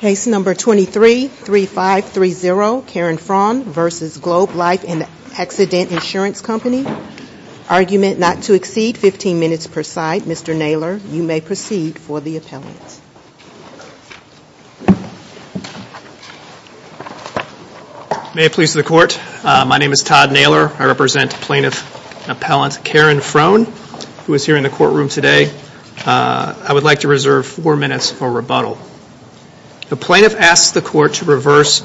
Case number 23-3530 Karen Frohn v. Globe Life and Accident Insurance Company. Argument not to exceed 15 minutes per side. Mr. Naylor, you may proceed for the appellant. May it please the court. My name is Todd Naylor. I represent plaintiff appellant Karen Frohn who is here in the courtroom today. I would like to reserve four minutes for rebuttal. The plaintiff asks the court to reverse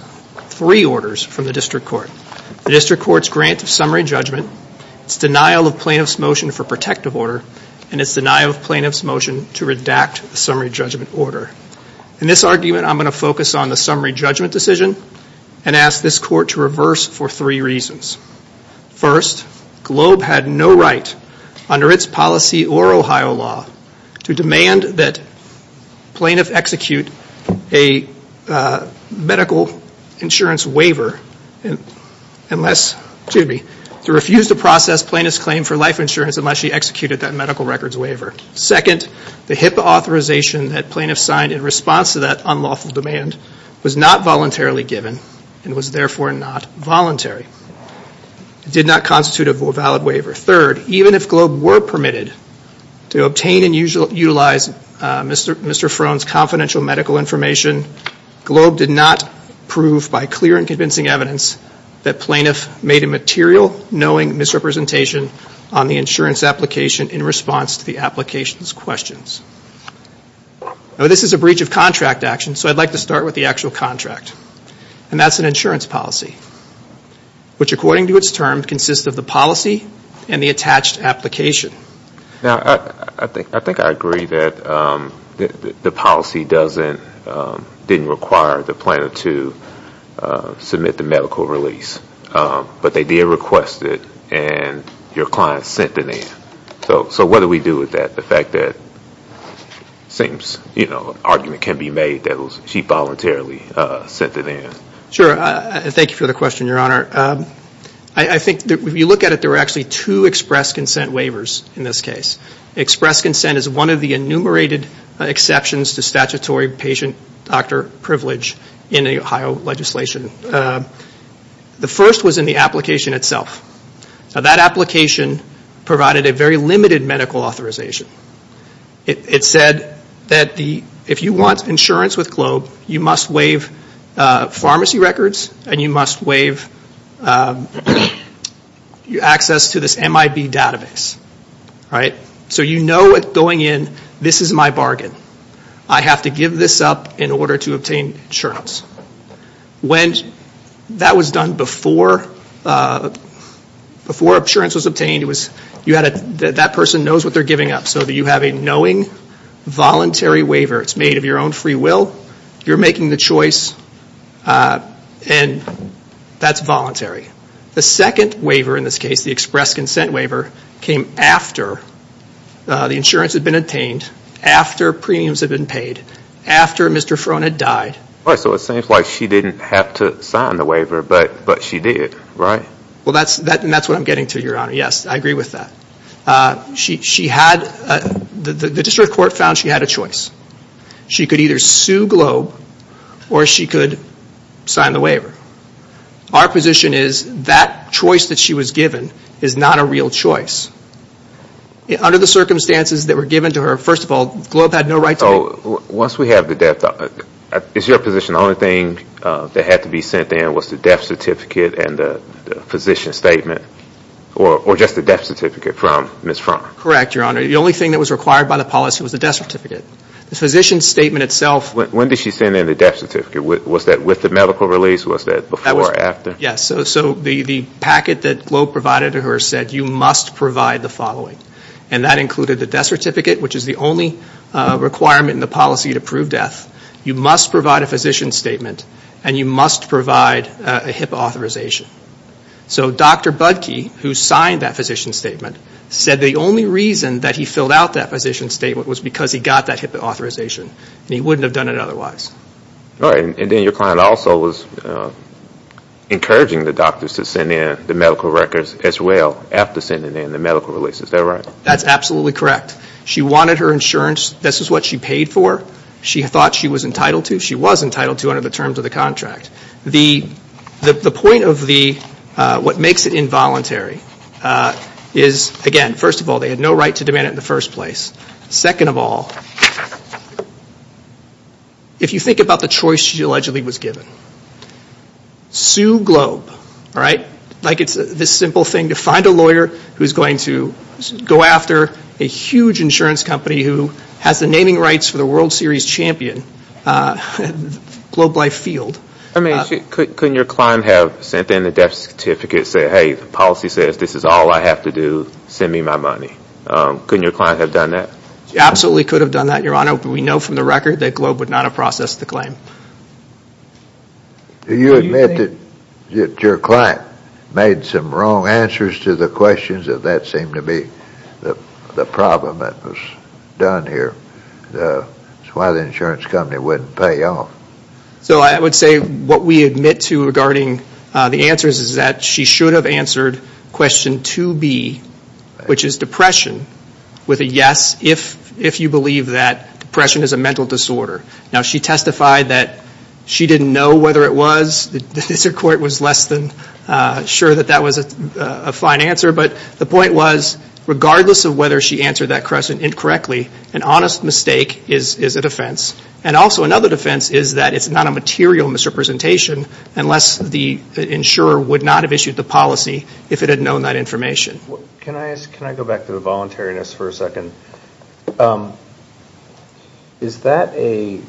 three orders from the district court. The district court's grant of summary judgment, its denial of plaintiff's motion for protective order, and its denial of plaintiff's motion to redact the summary judgment order. In this argument I'm going to focus on the summary judgment decision and ask this court to reverse for three reasons. First, Globe had no right under its policy or Ohio law to demand that plaintiff execute a medical insurance waiver unless, excuse me, to refuse to process plaintiff's claim for life insurance unless she executed that medical records waiver. Second, the HIPAA authorization that plaintiff signed in response to that unlawful demand was not voluntarily given and was therefore not voluntary. It did not constitute a valid waiver. Third, even if Globe were permitted to obtain and utilize Mr. Frohn's confidential medical information, Globe did not prove by clear and convincing evidence that plaintiff made a material knowing misrepresentation on the insurance application in response to the applications questions. This is a breach of contract action so I'd like to start with the actual contract and that's an insurance policy, which according to its term consists of the policy and the attached application. Now I think I agree that the policy didn't require the plaintiff to submit the medical release, but they did request it and your client sent it in. So what do we do with that? The fact that it seems an argument can be made that she voluntarily sent it in. Sure. Thank you for the question, Your Honor. I think if you look at it, there are actually two express consent waivers in this case. Express consent is one of the enumerated exceptions to statutory patient doctor privilege in the Ohio legislation. The first was in the application itself. Now that application provided a very limited medical authorization. It said that if you want insurance with Globe, you must waive pharmacy records and you must waive access to this MIB database. So you know it's going in, this is my bargain. I have to give this up in order to obtain insurance. When that was done before insurance was obtained, that person knows what they're giving up so that you knowing voluntary waiver. It's made of your own free will. You're making the choice and that's voluntary. The second waiver in this case, the express consent waiver, came after the insurance had been obtained, after premiums had been paid, after Mr. Frone had died. So it seems like she didn't have to sign the waiver, but she did, right? Well, that's what I'm getting to, Your Honor. Yes, I agree with that. She had the district court found she had a choice. She could either sue Globe or she could sign the waiver. Our position is that choice that she was given is not a real choice. Under the circumstances that were given to her, first of all, Globe had no right to... Once we have the death, is your position the only thing that had to be sent in was the death certificate and the physician statement or just the death certificate from Ms. Frone? Correct, Your Honor. The only thing that was required by the policy was the death certificate. The physician statement itself... When did she send in the death certificate? Was that with the medical release? Was that before or after? Yes. So the packet that Globe provided to her said, you must provide the following. And that included the death certificate, which is the only requirement in the policy to prove death. You must provide a physician statement and you must provide a HIPAA authorization. So Dr. Budke, who signed that physician statement, said the only reason that he filled out that physician statement was because he got that HIPAA authorization. He wouldn't have done it otherwise. All right. And then your client also was encouraging the doctors to send in the medical records as well after sending in the medical release. Is that right? That's absolutely correct. She wanted her insurance. This is what she paid for. She thought she was entitled to. She was entitled to under the terms of contract. The point of what makes it involuntary is, again, first of all, they had no right to demand it in the first place. Second of all, if you think about the choice she allegedly was given, sue Globe. All right? Like it's this simple thing to find a lawyer who's going to go after a huge insurance company who has the naming rights for the World Series champion, Globe Life Field. Couldn't your client have sent in a death certificate saying, hey, the policy says this is all I have to do. Send me my money. Couldn't your client have done that? She absolutely could have done that, Your Honor. But we know from the record that Globe would not have processed the claim. Do you admit that your client made some wrong answers to the questions of that seemed to be the problem that was done here? That's why the insurance company wouldn't pay off. So I would say what we admit to regarding the answers is that she should have answered question 2B, which is depression, with a yes if you believe that depression is a mental disorder. Now, she testified that she didn't know whether it was. The district court was less than sure that that was a fine answer. But the point was, regardless of whether she answered that question incorrectly, an honest mistake is a defense. And also another defense is that it's not a material misrepresentation unless the insurer would not have issued the policy if it had known that information. Can I go back to the voluntariness for a second? Is that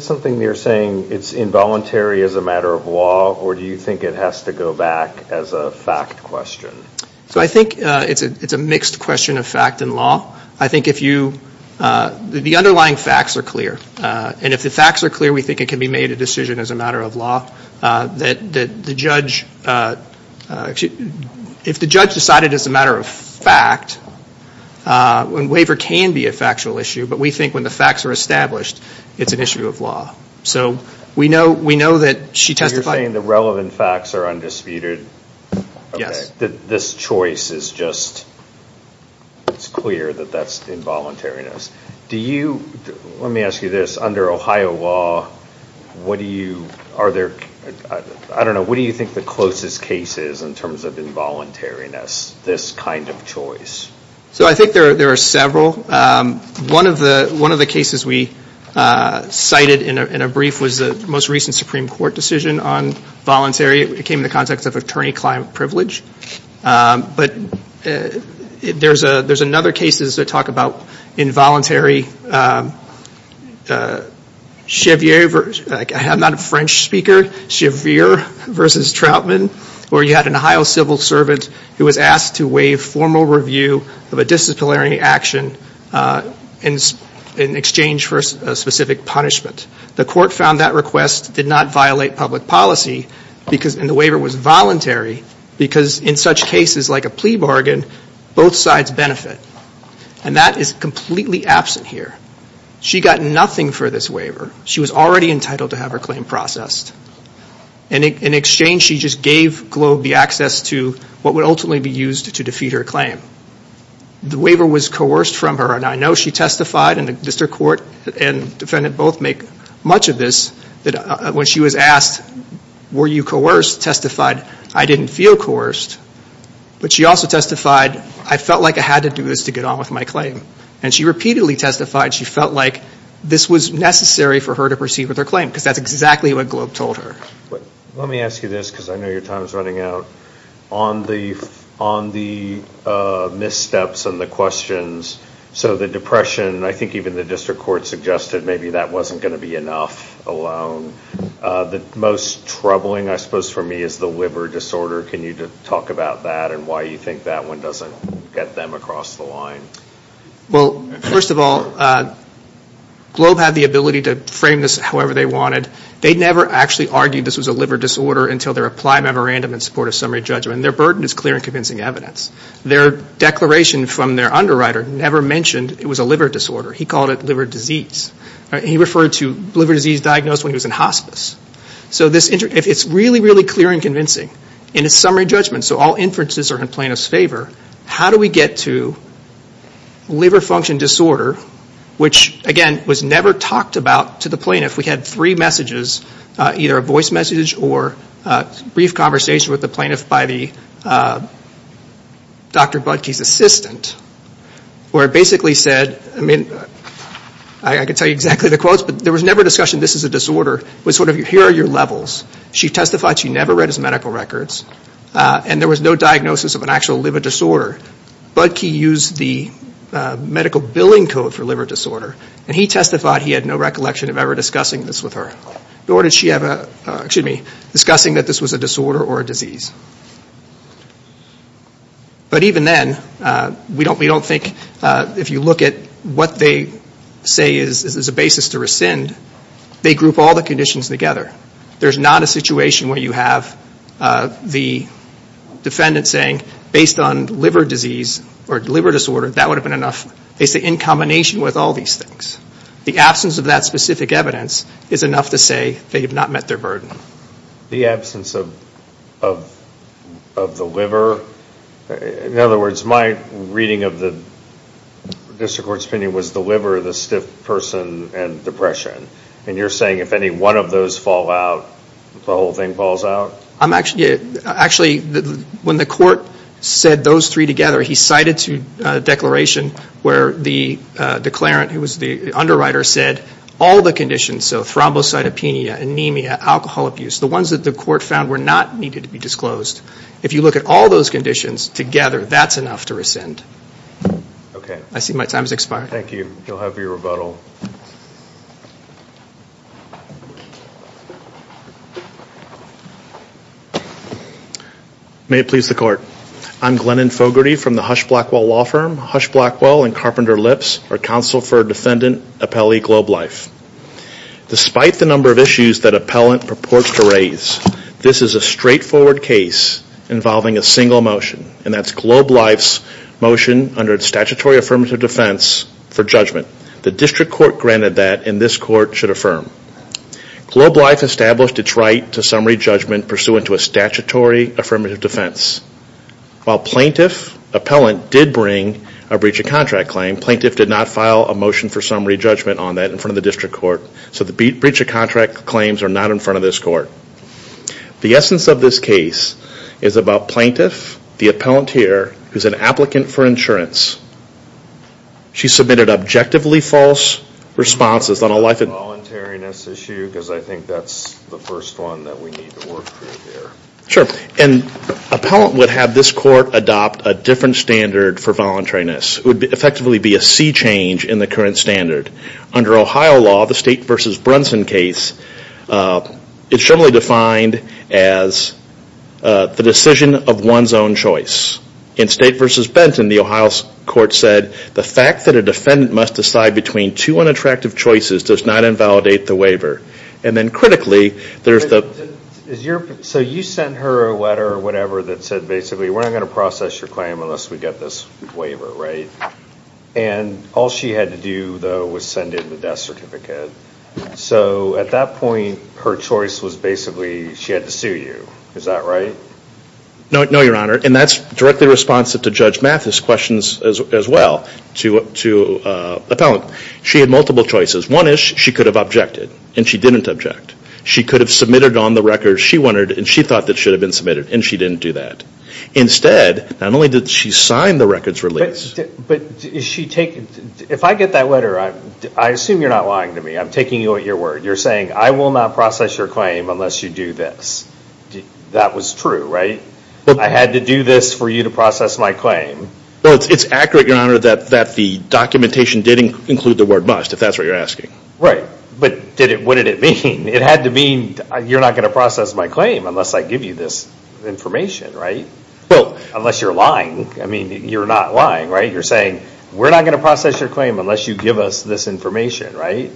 something you're saying it's involuntary as a matter of law or do you think it has to go back as a fact question? So I think it's a mixed question of fact and law. I think if you, the underlying facts are clear. And if the facts are clear, we think it can be made a decision as a matter of law. That the judge, if the judge decided as a matter of fact, when waiver can be a factual issue, but we think when the facts are established, it's an issue of law. So we know that she testified. So you're saying the relevant facts are undisputed. This choice is just, it's clear that that's involuntariness. Do you, let me ask you this, under Ohio law, what do you, are there, I don't know, what do you think the closest case is in terms of involuntariness, this kind of choice? So I think there are several. One of the cases we cited in a brief was the most recent Supreme Court decision on voluntary. It came in the context of attorney-client privilege. But there's another case that talks about involuntary chevier, I'm not a French speaker, chevier versus Troutman, where you had an Ohio civil servant who was asked to waive formal review of a disciplinary action in exchange for a specific punishment. The court found that request did not violate public policy, and the waiver was voluntary, because in such cases like a plea bargain, both sides benefit. And that is completely absent here. She got nothing for this waiver. She was already entitled to have her claim processed. In exchange, she just gave Globe the access to what would ultimately be used to defeat her claim. The waiver was coerced from her, and I know she testified, and the district court and defendant both make much of this, that when she was asked, were you coerced, testified, I didn't feel coerced. But she also testified, I felt like I had to do this to get on with my claim. And she repeatedly testified she felt like this was necessary for her to proceed with her claim, because that's exactly what Globe told her. Let me ask you this, because I know your time is running out. On the missteps and the questions, so the depression, I think even the district court suggested maybe that wasn't going to be enough alone. The most troubling, I suppose for me, is the liver disorder. Can you talk about that and why you think that one doesn't get them across the line? Well, first of all, Globe had the ability to frame this however they wanted. They never actually argued this was a liver disorder until their applied memorandum in support of summary judgment. And their burden is clear and convincing evidence. Their declaration from their underwriter never mentioned it was a liver disorder. He called it liver disease. He referred to liver disease diagnosed when he was in hospice. So it's really, really clear and convincing. In a summary judgment, so all inferences are in plaintiff's favor, how do we get to liver function disorder, which again was never talked about to the plaintiff. We had three messages, either a voice message or brief conversation with the plaintiff by Dr. Budke's assistant, where it basically said, I mean, I can tell you exactly the quotes, but there was never discussion this is a disorder. It was sort of, here are your levels. She testified she never read his medical records. And there was no diagnosis of an actual liver disorder. Budke used the medical billing code for liver disorder. And he testified he had no recollection of ever discussing this with her. Nor did she have a, excuse me, discussing that this was a disorder or a disease. But even then, we don't think, if you look at what they say is a basis to rescind, they group all the conditions together. There's not a situation where you have the defendant saying, based on liver disease or liver disorder, that would have been enough. They say in combination with all these things. The absence of that specific evidence is enough to say they have not met their burden. The absence of the liver. In other words, my reading of the district court's opinion was the liver, the stiff person, and depression. And you're saying if any one of those fall out, the whole thing falls out? I'm actually, actually, when the court said those three together, he cited to declaration where the declarant, who was the underwriter, said all the conditions, so thrombocytopenia, anemia, alcohol abuse, the ones that the court found were not needed to be disclosed. If you look at all those conditions together, that's enough to rescind. Okay. I see my time has expired. Thank you. You'll have your rebuttal. May it please the court. I'm Glennon Fogarty from the Hush Blackwell Law Firm. Hush Blackwell and Carpenter Lips are counsel for defendant Appellee Globe Life. Despite the number of issues that appellant purports to raise, this is a straightforward case involving a single motion, and that's Globe Life's motion under statutory affirmative defense for judgment. The district court granted that, and this court should affirm. Globe Life established its right to summary judgment pursuant to a statutory affirmative defense. While plaintiff appellant did bring a breach of contract claim, plaintiff did not file a motion for summary judgment on that in front of the district court. So the breach of contract claims are not in front of this court. The essence of this case is about plaintiff, the appellant here, who's an applicant for insurance. She submitted objectively false responses on a life voluntariness issue, because I think that's the first one that we need to work through here. Sure, and appellant would have this court adopt a different standard for voluntariness. It would effectively be a sea change in the current standard. Under Ohio law, the State v. Brunson case, it's generally defined as the decision of one's own choice. In State v. Benton, the Ohio court said the fact that a defendant must decide between two unattractive choices does not invalidate the waiver. And then critically, there's the... So you sent her a letter or whatever that said basically, we're not going to process your claim unless we get this waiver, right? And all she had to do, though, was send in the death certificate. So at that point, her choice was basically, she had to sue you. Is that right? No, your honor, and that's directly responsive to Judge Mathis' questions as well to appellant. She had multiple choices. One is she could have objected, and she didn't object. She could have submitted on the record she wanted, and she thought that should have been submitted, and she didn't do that. Instead, not only did she sign the records release... But is she taking... If I get that letter, I assume you're not lying to me. I'm taking your word. You're saying, I will not process your claim unless you do this. That was true, right? I had to do this for you to process my claim. Well, it's accurate, your honor, that the documentation did include the word must, if that's what you're asking. Right. But what did it mean? It had to mean, you're not going to process my claim unless I give you this information, right? Well, unless you're lying. I mean, you're not lying, right? You're saying, we're not going to process your claim unless you give us this information, right?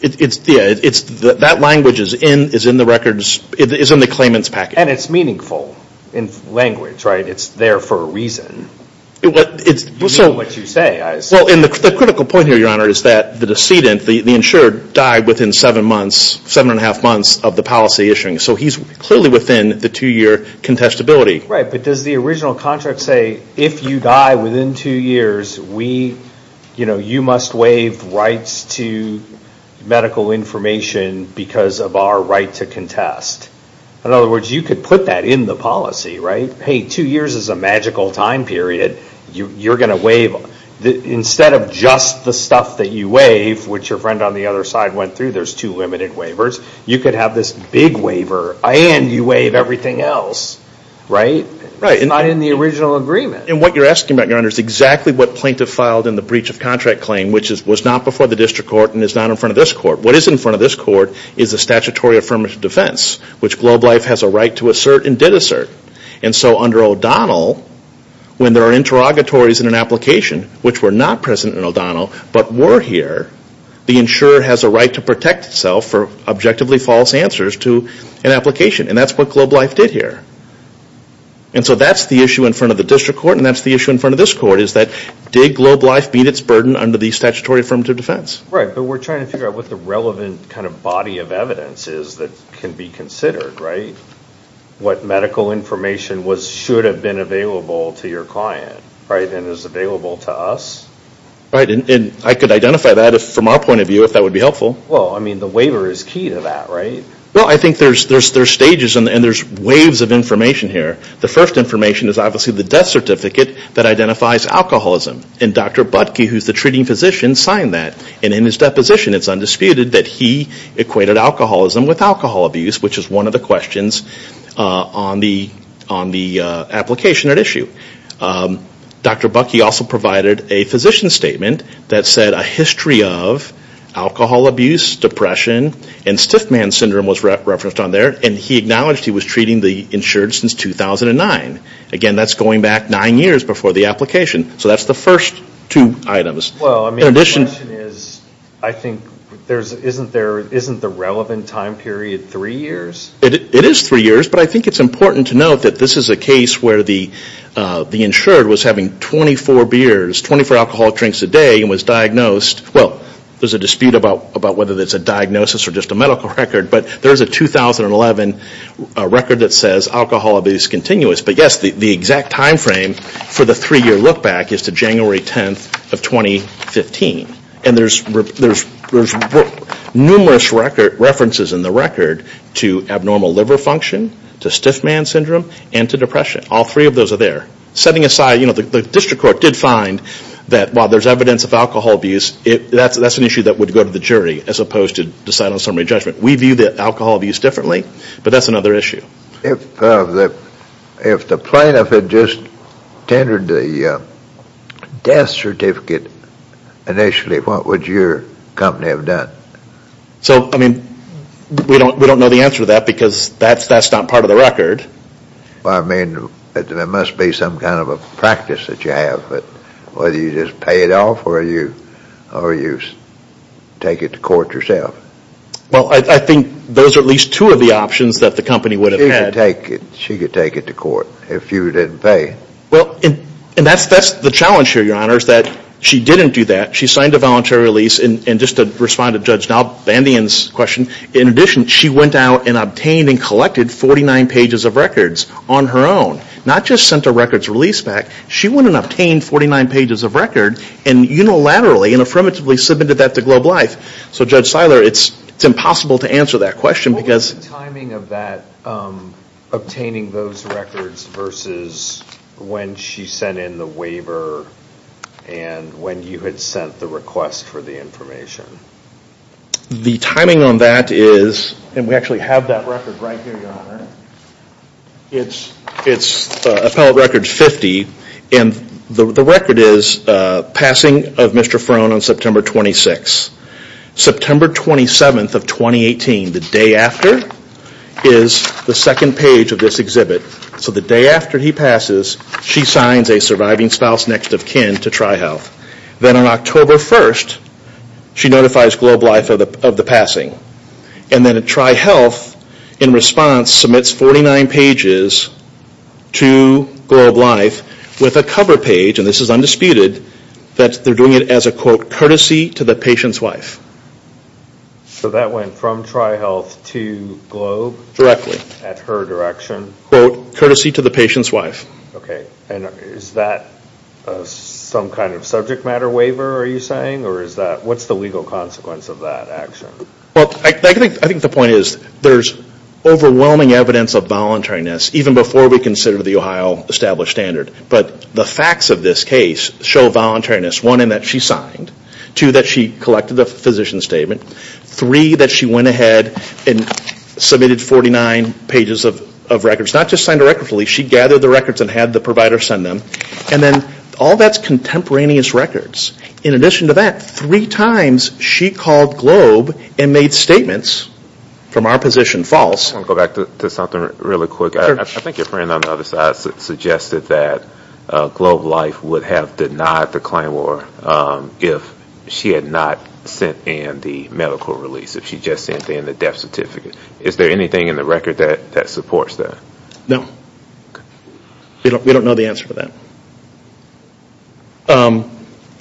That language is in the records... It's in the claimant's package. And it's meaningful in language, right? It's there for a reason. You know what you say. Well, the critical point here, your honor, is that the decedent, the insured, died within seven months, seven and a half months of the policy issuing. So he's clearly within the two-year contestability. Right, but does the original contract say, if you die within two years, you must waive rights to medical information because of our right to contest? In other words, you could put that in the policy, right? Hey, two years is a magical time period. You're going to waive... Instead of just the stuff that you waive, which your friend on the other side went through, there's two limited waivers, you could have this big waiver and you waive everything else, right? It's not in the original agreement. And what you're asking about, your honor, is exactly what plaintiff filed in the breach of contract claim, which was not before the district court and is not in front of this court. What is in front of this court is a statutory affirmative defense, which Globe Life has a right to assert and did assert. And so under O'Donnell, when there are interrogatories in an application, which were not present in O'Donnell, but were here, the insurer has a right to protect itself for objectively false answers to an application. And that's what Globe Life did here. And so that's the issue in front of the district court and that's the issue in front of this court, is that did Globe Life beat its burden under the statutory affirmative defense? Right, but we're trying to figure out what the relevant kind of body of evidence is that can be considered, right? What medical information should have been available to your client, right, and is available to us? Right, and I could identify that from our point of view, if that would be helpful. Well, I mean, the waiver is key to that, right? Well, I think there's stages and there's waves of information here. The first information is obviously the death certificate that identifies alcoholism. And Dr. Butkey, who's the treating physician, signed that. And in his deposition, it's undisputed that he equated alcoholism with alcohol abuse, which is one of the questions on the application at issue. Dr. Butkey also provided a physician statement that said a history of alcohol abuse, depression, and stiff man syndrome was referenced on there. And he acknowledged he was treating the insured since 2009. Again, that's going back nine years before the application. So that's the first two items. Well, I mean, the question is, I think, isn't the relevant time period three years? It is three years, but I think it's important to note that this is a case where the insured was having 24 beers, 24 alcoholic drinks a day and was diagnosed, well, there's a dispute about whether it's a diagnosis or just a case that says alcohol abuse is continuous. But yes, the exact timeframe for the three-year look back is to January 10th of 2015. And there's numerous references in the record to abnormal liver function, to stiff man syndrome, and to depression. All three of those are there. Setting aside, you know, the district court did find that while there's evidence of alcohol abuse, that's an issue that would go to the jury as opposed to deciding on summary judgment. We view the alcohol abuse differently, but that's another issue. If the plaintiff had just tendered the death certificate initially, what would your company have done? So, I mean, we don't know the answer to that because that's not part of the Well, I mean, there must be some kind of a practice that you have, whether you just pay it off or you take it to court yourself. Well, I think those are at least two of the options that the company would have had. She could take it to court if you didn't pay. Well, and that's the challenge here, Your Honor, is that she didn't do that. She signed a voluntary release, and just to respond to Judge Bandian's question, in addition, she went out and obtained and collected 49 pages of records on her own. Not just sent a records release back, she went and obtained 49 pages of record and unilaterally and affirmatively submitted that to Globe Life. So, Judge Seiler, it's impossible to answer that question because What was the timing of that obtaining those records versus when she sent in the waiver and when you had sent the request for the information? The timing on that is And we actually have that record right here, Your Honor. It's appellate record 50, and the record is passing of Mr. Frone on September 26th. September 27th of 2018, the day after, is the second page of this exhibit. So the day after he passes, she signs a surviving spouse next of kin to Tri-Health. Then on October 1st, she notifies Globe Life of the passing. And then Tri-Health, in response, submits 49 pages to Globe Life with a cover page, and this is undisputed, that they're doing it as a, quote, courtesy to the patient's wife. So that went from Tri-Health to Globe? Directly. At her direction? Quote, courtesy to the patient's wife. Okay. And is that some kind of subject matter waiver, are you saying? Or is that what's the legal consequence of that action? Well, I think the point is there's overwhelming evidence of voluntariness even before we consider the Ohio established standard. But the facts of this case show voluntariness. One, in that she signed. Two, that she collected the physician's statement. Three, that she went ahead and submitted 49 pages of records. Not just signed a record, she gathered the records and had the provider send them. And then all that's contemporaneous records. In addition to that, three times she called Globe and made statements from our position false. I just want to go back to something really quick. I think your friend on the other side suggested that Globe Life would have denied the claim or if she had not sent in the medical release. If she just sent in the death certificate. Is there anything in the record that supports that? No. We don't know the answer to that.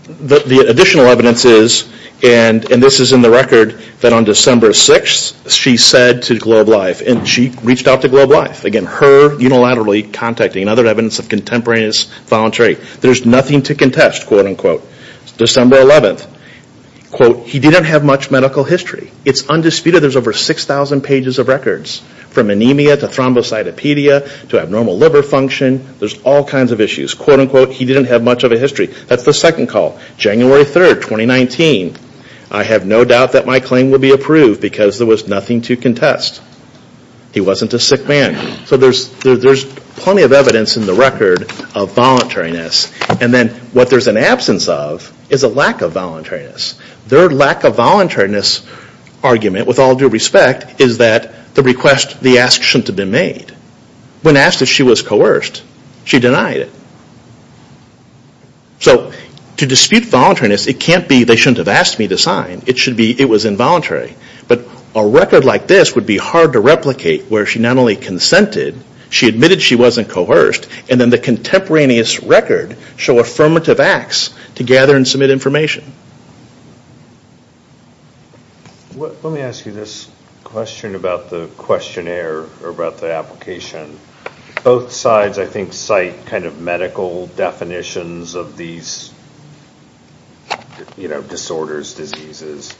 The additional evidence is, and this is in the record, that on December 6th she said to Globe Life, and she reached out to Globe Life. Again, her unilaterally contacting and other evidence of contemporaneous voluntary. There's nothing to contest, quote unquote. December 11th, quote, he didn't have much medical history. It's undisputed there's over 6,000 pages of records from anemia to thrombocytopedia to abnormal liver function. There's all kinds of issues, quote unquote. He didn't have much of a history. That's the second call. January 3rd, 2019, I have no doubt that my claim will be approved because there was nothing to contest. He wasn't a sick man. So there's plenty of evidence in the record of voluntariness. And then what there's an absence of is a lack of voluntariness. Their lack of voluntariness argument, with all due respect, is that the request, the ask, shouldn't have been made. When asked if she was coerced, she denied it. So to dispute voluntariness, it can't be they shouldn't have asked me to sign. It should be it was involuntary. But a record like this would be hard to replicate where she not only consented, she admitted she wasn't coerced, and then the contemporaneous record show affirmative acts to gather and submit information. Let me ask you this question about the questionnaire or about the application. Both sides, I think, cite medical definitions of these disorders, diseases.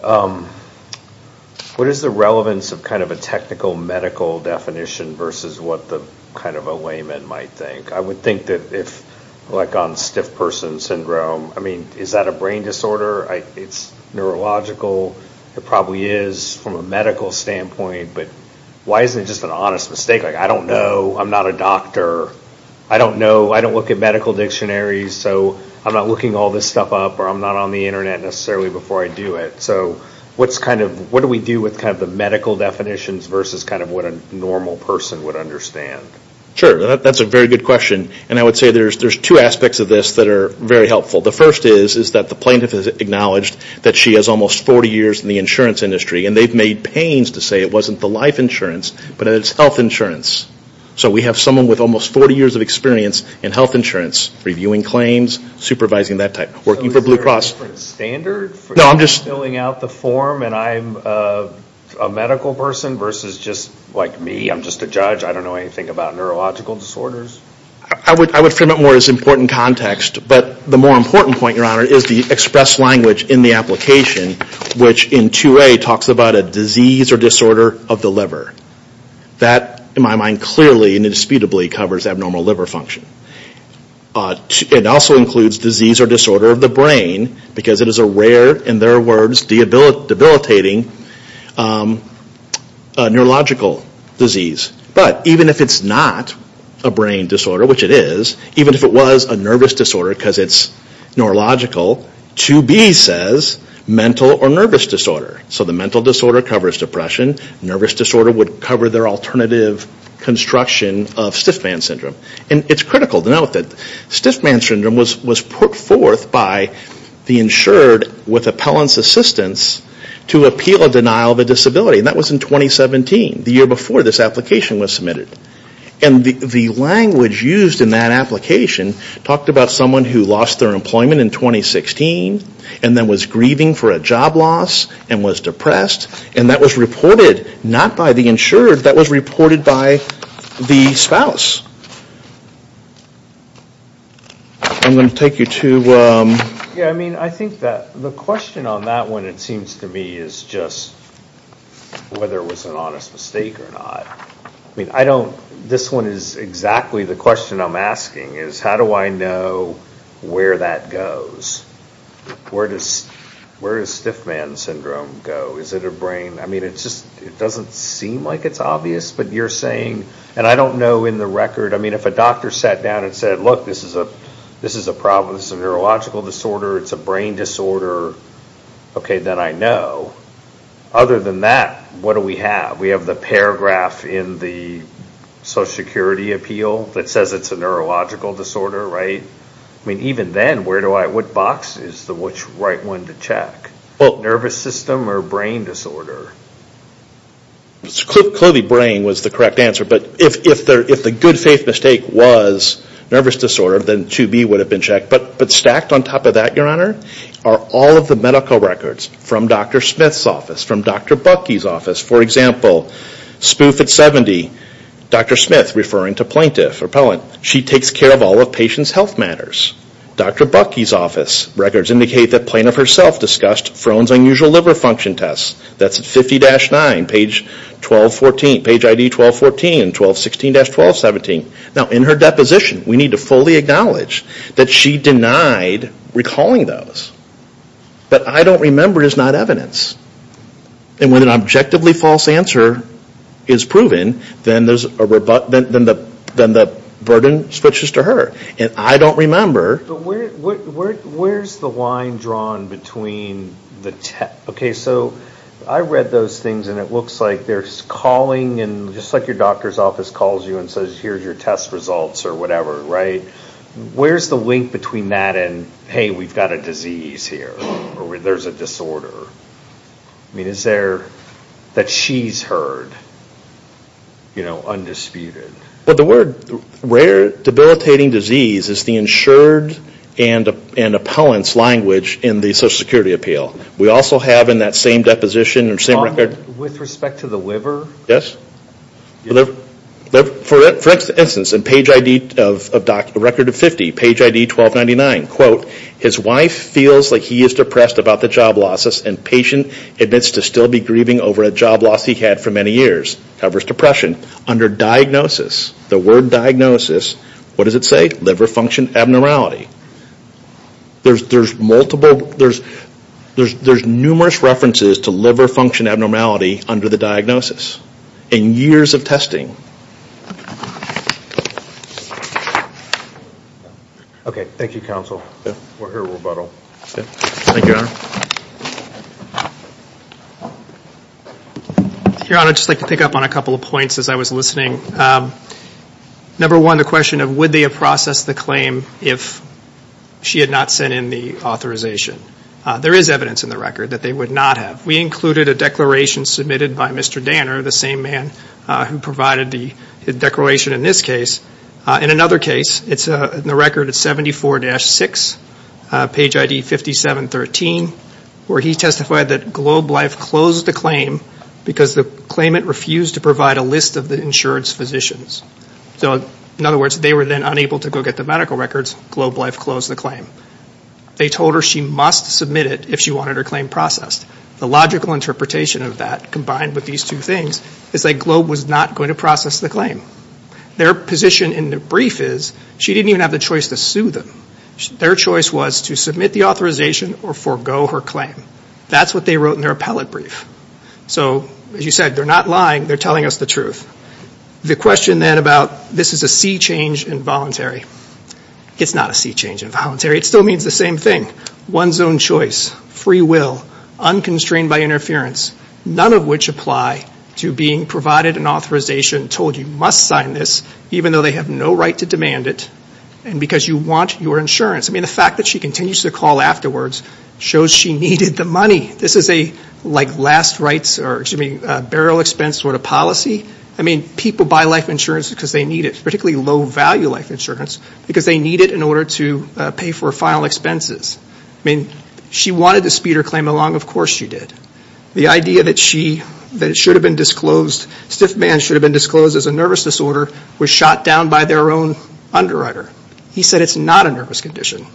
What is the relevance of a technical medical definition versus what a layman might think? I would think that if, like on stiff person syndrome, is that a brain disorder? It's neurological. It probably is from a medical standpoint. But why isn't it just an honest mistake? I don't know. I'm not a doctor. I don't know. I don't look at medical dictionaries. So I'm not looking all this stuff up or I'm not on the internet necessarily before I do it. So what do we do with the medical definitions versus what a normal person would understand? Sure. That's a very good question. And I would say there's two aspects of this that are very helpful. The first is that the plaintiff has acknowledged that she has almost 40 years in the insurance industry. And they've made pains to say it wasn't the life insurance, but it's health insurance. So we have someone with almost 40 years of experience in health insurance, reviewing claims, supervising that type, working for Blue Cross. So is there a different standard for filling out the form and I'm a medical person versus just like me, I'm just a judge, I don't know anything about neurological disorders? I would frame it more as important context. But the more important point, Your Honor, is the express language in the application, which in 2A talks about a disease or disorder of the liver. That, in my mind, clearly and indisputably covers abnormal liver function. It also includes disease or disorder of the brain because it is a rare, in their words, debilitating neurological disease. But even if it's not a brain disorder, which it is, even if it was a nervous disorder because it's neurological, 2B says mental or nervous disorder. So the mental disorder covers depression. Nervous disorder would cover their alternative construction of Stiffman Syndrome. And it's critical to note that Stiffman Syndrome was put forth by the insured with appellant's assistance to appeal a denial of a disability. And that was in 2017, the year before this application was submitted. And the language used in that application talked about someone who lost their employment in 2016 and then was grieving for a job loss and was depressed. And that was reported not by the insured, that was reported by the spouse. I'm going to take you to... Yeah, I mean, I think that the question on that one, it seems to me, is just whether it was an honest mistake or not. I mean, I don't, this one is exactly the question I'm asking is how do I know where that goes? Where does Stiffman Syndrome go? Is it a brain? I mean, it's just, it doesn't seem like it's obvious, but you're saying, and I don't know in the record, I mean, if a doctor sat down and said, look, this is a problem, this is a neurological disorder, it's a brain disorder, okay, then I know. Other than that, what do we have? We have the paragraph in the Social Security Appeal that says it's a neurological disorder, right? I mean, even then, where do I, what box is the right one to check? Nervous system or brain disorder? Clovey brain was the correct answer, but if the good faith mistake was nervous disorder, then 2B would have been checked. But stacked on top of that, Your Honor, are all of the medical records from Dr. Smith's office, from Dr. Buckey's office, for example, spoof at 70, Dr. Smith referring to plaintiff or appellant, she takes care of all of patient's health matters. Dr. Buckey's office records indicate that plaintiff herself discussed Frone's Unusual Liver Function Test. That's at 50-9, page 1214, page ID 1214, 1216-1217. Now in her deposition, we need to fully acknowledge that she denied recalling those. But I can't remember is not evidence. And when an objectively false answer is proven, then the burden switches to her. And I don't remember. Where's the line drawn between the test, okay, so I read those things and it looks like there's calling and just like your doctor's office calls you and says here's your test results or whatever, right? Where's the link between that and hey, we've got a disease here or there's a disorder? I mean, is there that she's heard, you know, undisputed? But the word rare debilitating disease is the insured and appellant's language in the Social Security appeal. We also have in that same deposition or same record. With respect to the liver? Yes. For instance, in page ID of record of 50, page ID 1299, quote, his wife feels like he is depressed about the job losses and patient admits to still be grieving over a job loss he had for many years. However, his depression under diagnosis, the word diagnosis, what does it say? Liver function abnormality. There's numerous references to liver function abnormality under the diagnosis and years of testing. Okay, thank you, counsel. We're here to rebuttal. Thank you, your honor. Your honor, I'd just like to pick up on a couple of points as I was listening. Number one, the question of would they have processed the claim if she had not sent in the authorization? There is evidence in the record that they would not have. We included a declaration submitted by Mr. Danner, the same man who provided the declaration in this case. In another case, it's in the record of 74-6, page ID 5713, where he testified that Globe Life closed the claim because the claimant refused to provide a list of the insured's physicians. So in other words, they were then unable to go get the medical records. Globe Life closed the claim. They told her she must submit it if she wanted her claim processed. The logical interpretation of that combined with these two things is that Globe was not going to process the claim. Their position in the brief is she didn't even have the choice to sue them. Their choice was to submit the authorization or forego her claim. That's what they wrote in their appellate brief. So as you said, they're not lying. They're telling us the truth. The question then about this is a sea change involuntary. It's not a sea change involuntary. It still means the same thing. One's own choice, free will, unconstrained by interference, none of which apply to being provided an authorization, told you must sign this even though they have no right to demand it, and because you want your insurance. I mean, the fact that she continues to call afterwards shows she needed the money. This is a like last rights or burial expense sort of policy. I mean, people buy life insurance because they need it, particularly low value life insurance, because they need it in order to pay for final expenses. I mean, she wanted to speed her claim along. Of course she did. The idea that she, that it should have been disclosed, stiff man should have been disclosed as a nervous disorder was shot down by their own underwriter. He said it's not a nervous condition.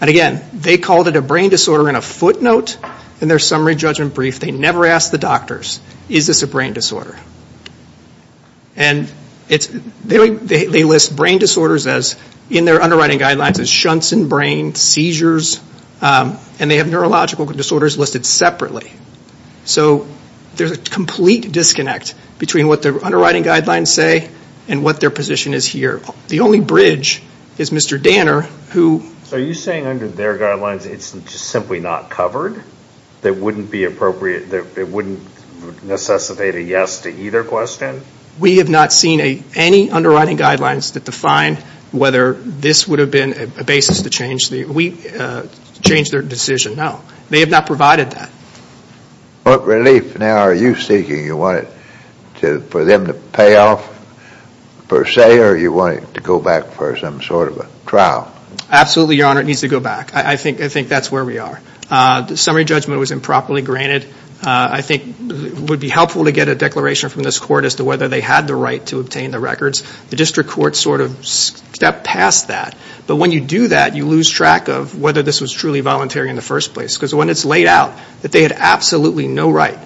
And again, they called it a brain disorder in a footnote in their summary judgment brief. They never asked the doctors, is this a brain disorder? And they list brain disorders as, in their underwriting guidelines, as shunts in brain, seizures, and they have neurological disorders listed separately. So there's a complete disconnect between what their underwriting guidelines say and what their position is here. The only bridge is Mr. Danner, who... So are you saying under their guidelines it's just simply not covered? That it wouldn't necessitate a yes to either question? We have not seen any underwriting guidelines that define whether this would have been a basis to change the, change their decision, no. They have not provided that. What relief now are you seeking? You want it to, for them to pay off, per se, or you want it to go back for some sort of a trial? Absolutely, Your Honor, it needs to go back. I think that's where we are. The summary judgment was improperly granted. I think it would be helpful to get a declaration from this court as to whether they had the right to obtain the records. The district court sort of stepped past that. But when you do that, you lose track of whether this was truly voluntary in the first place. Because when it's laid out that they had absolutely no right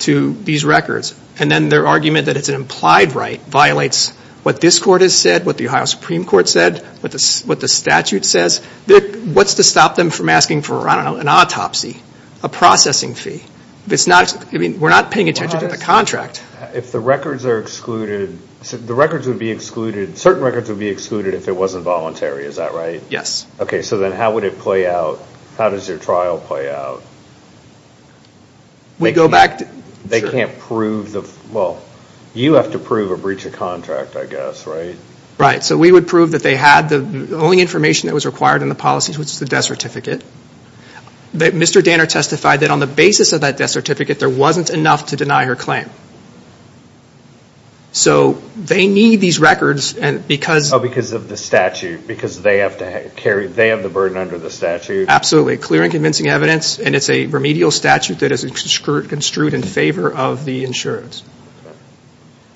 to these records, and then their argument that it's an implied right violates what this court has said, what the Ohio Supreme Court said, what the statute says, what's to stop them from asking for, I don't know, an autopsy, a processing fee? We're not paying attention to the contract. If the records are excluded, the records would be excluded, certain records would be excluded if it wasn't voluntary, is that right? Yes. Okay, so then how would it play out? How does your trial play out? We go back to They can't prove the, well, you have to prove a breach of contract, I guess, right? Right, so we would prove that they had the only information that was required in the policies, which is the death certificate. Mr. Danner testified that on the basis of that death certificate, there wasn't enough to deny her claim. So they need these records and because Oh, because of the statute, because they have to carry, they have the burden under the statute. Absolutely. Clear and convincing evidence, and it's a remedial statute that is construed in favor of the insurance.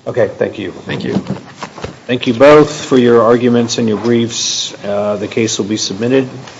Okay, thank you. Thank you. Thank you both for your arguments and your briefs. The case will be submitted.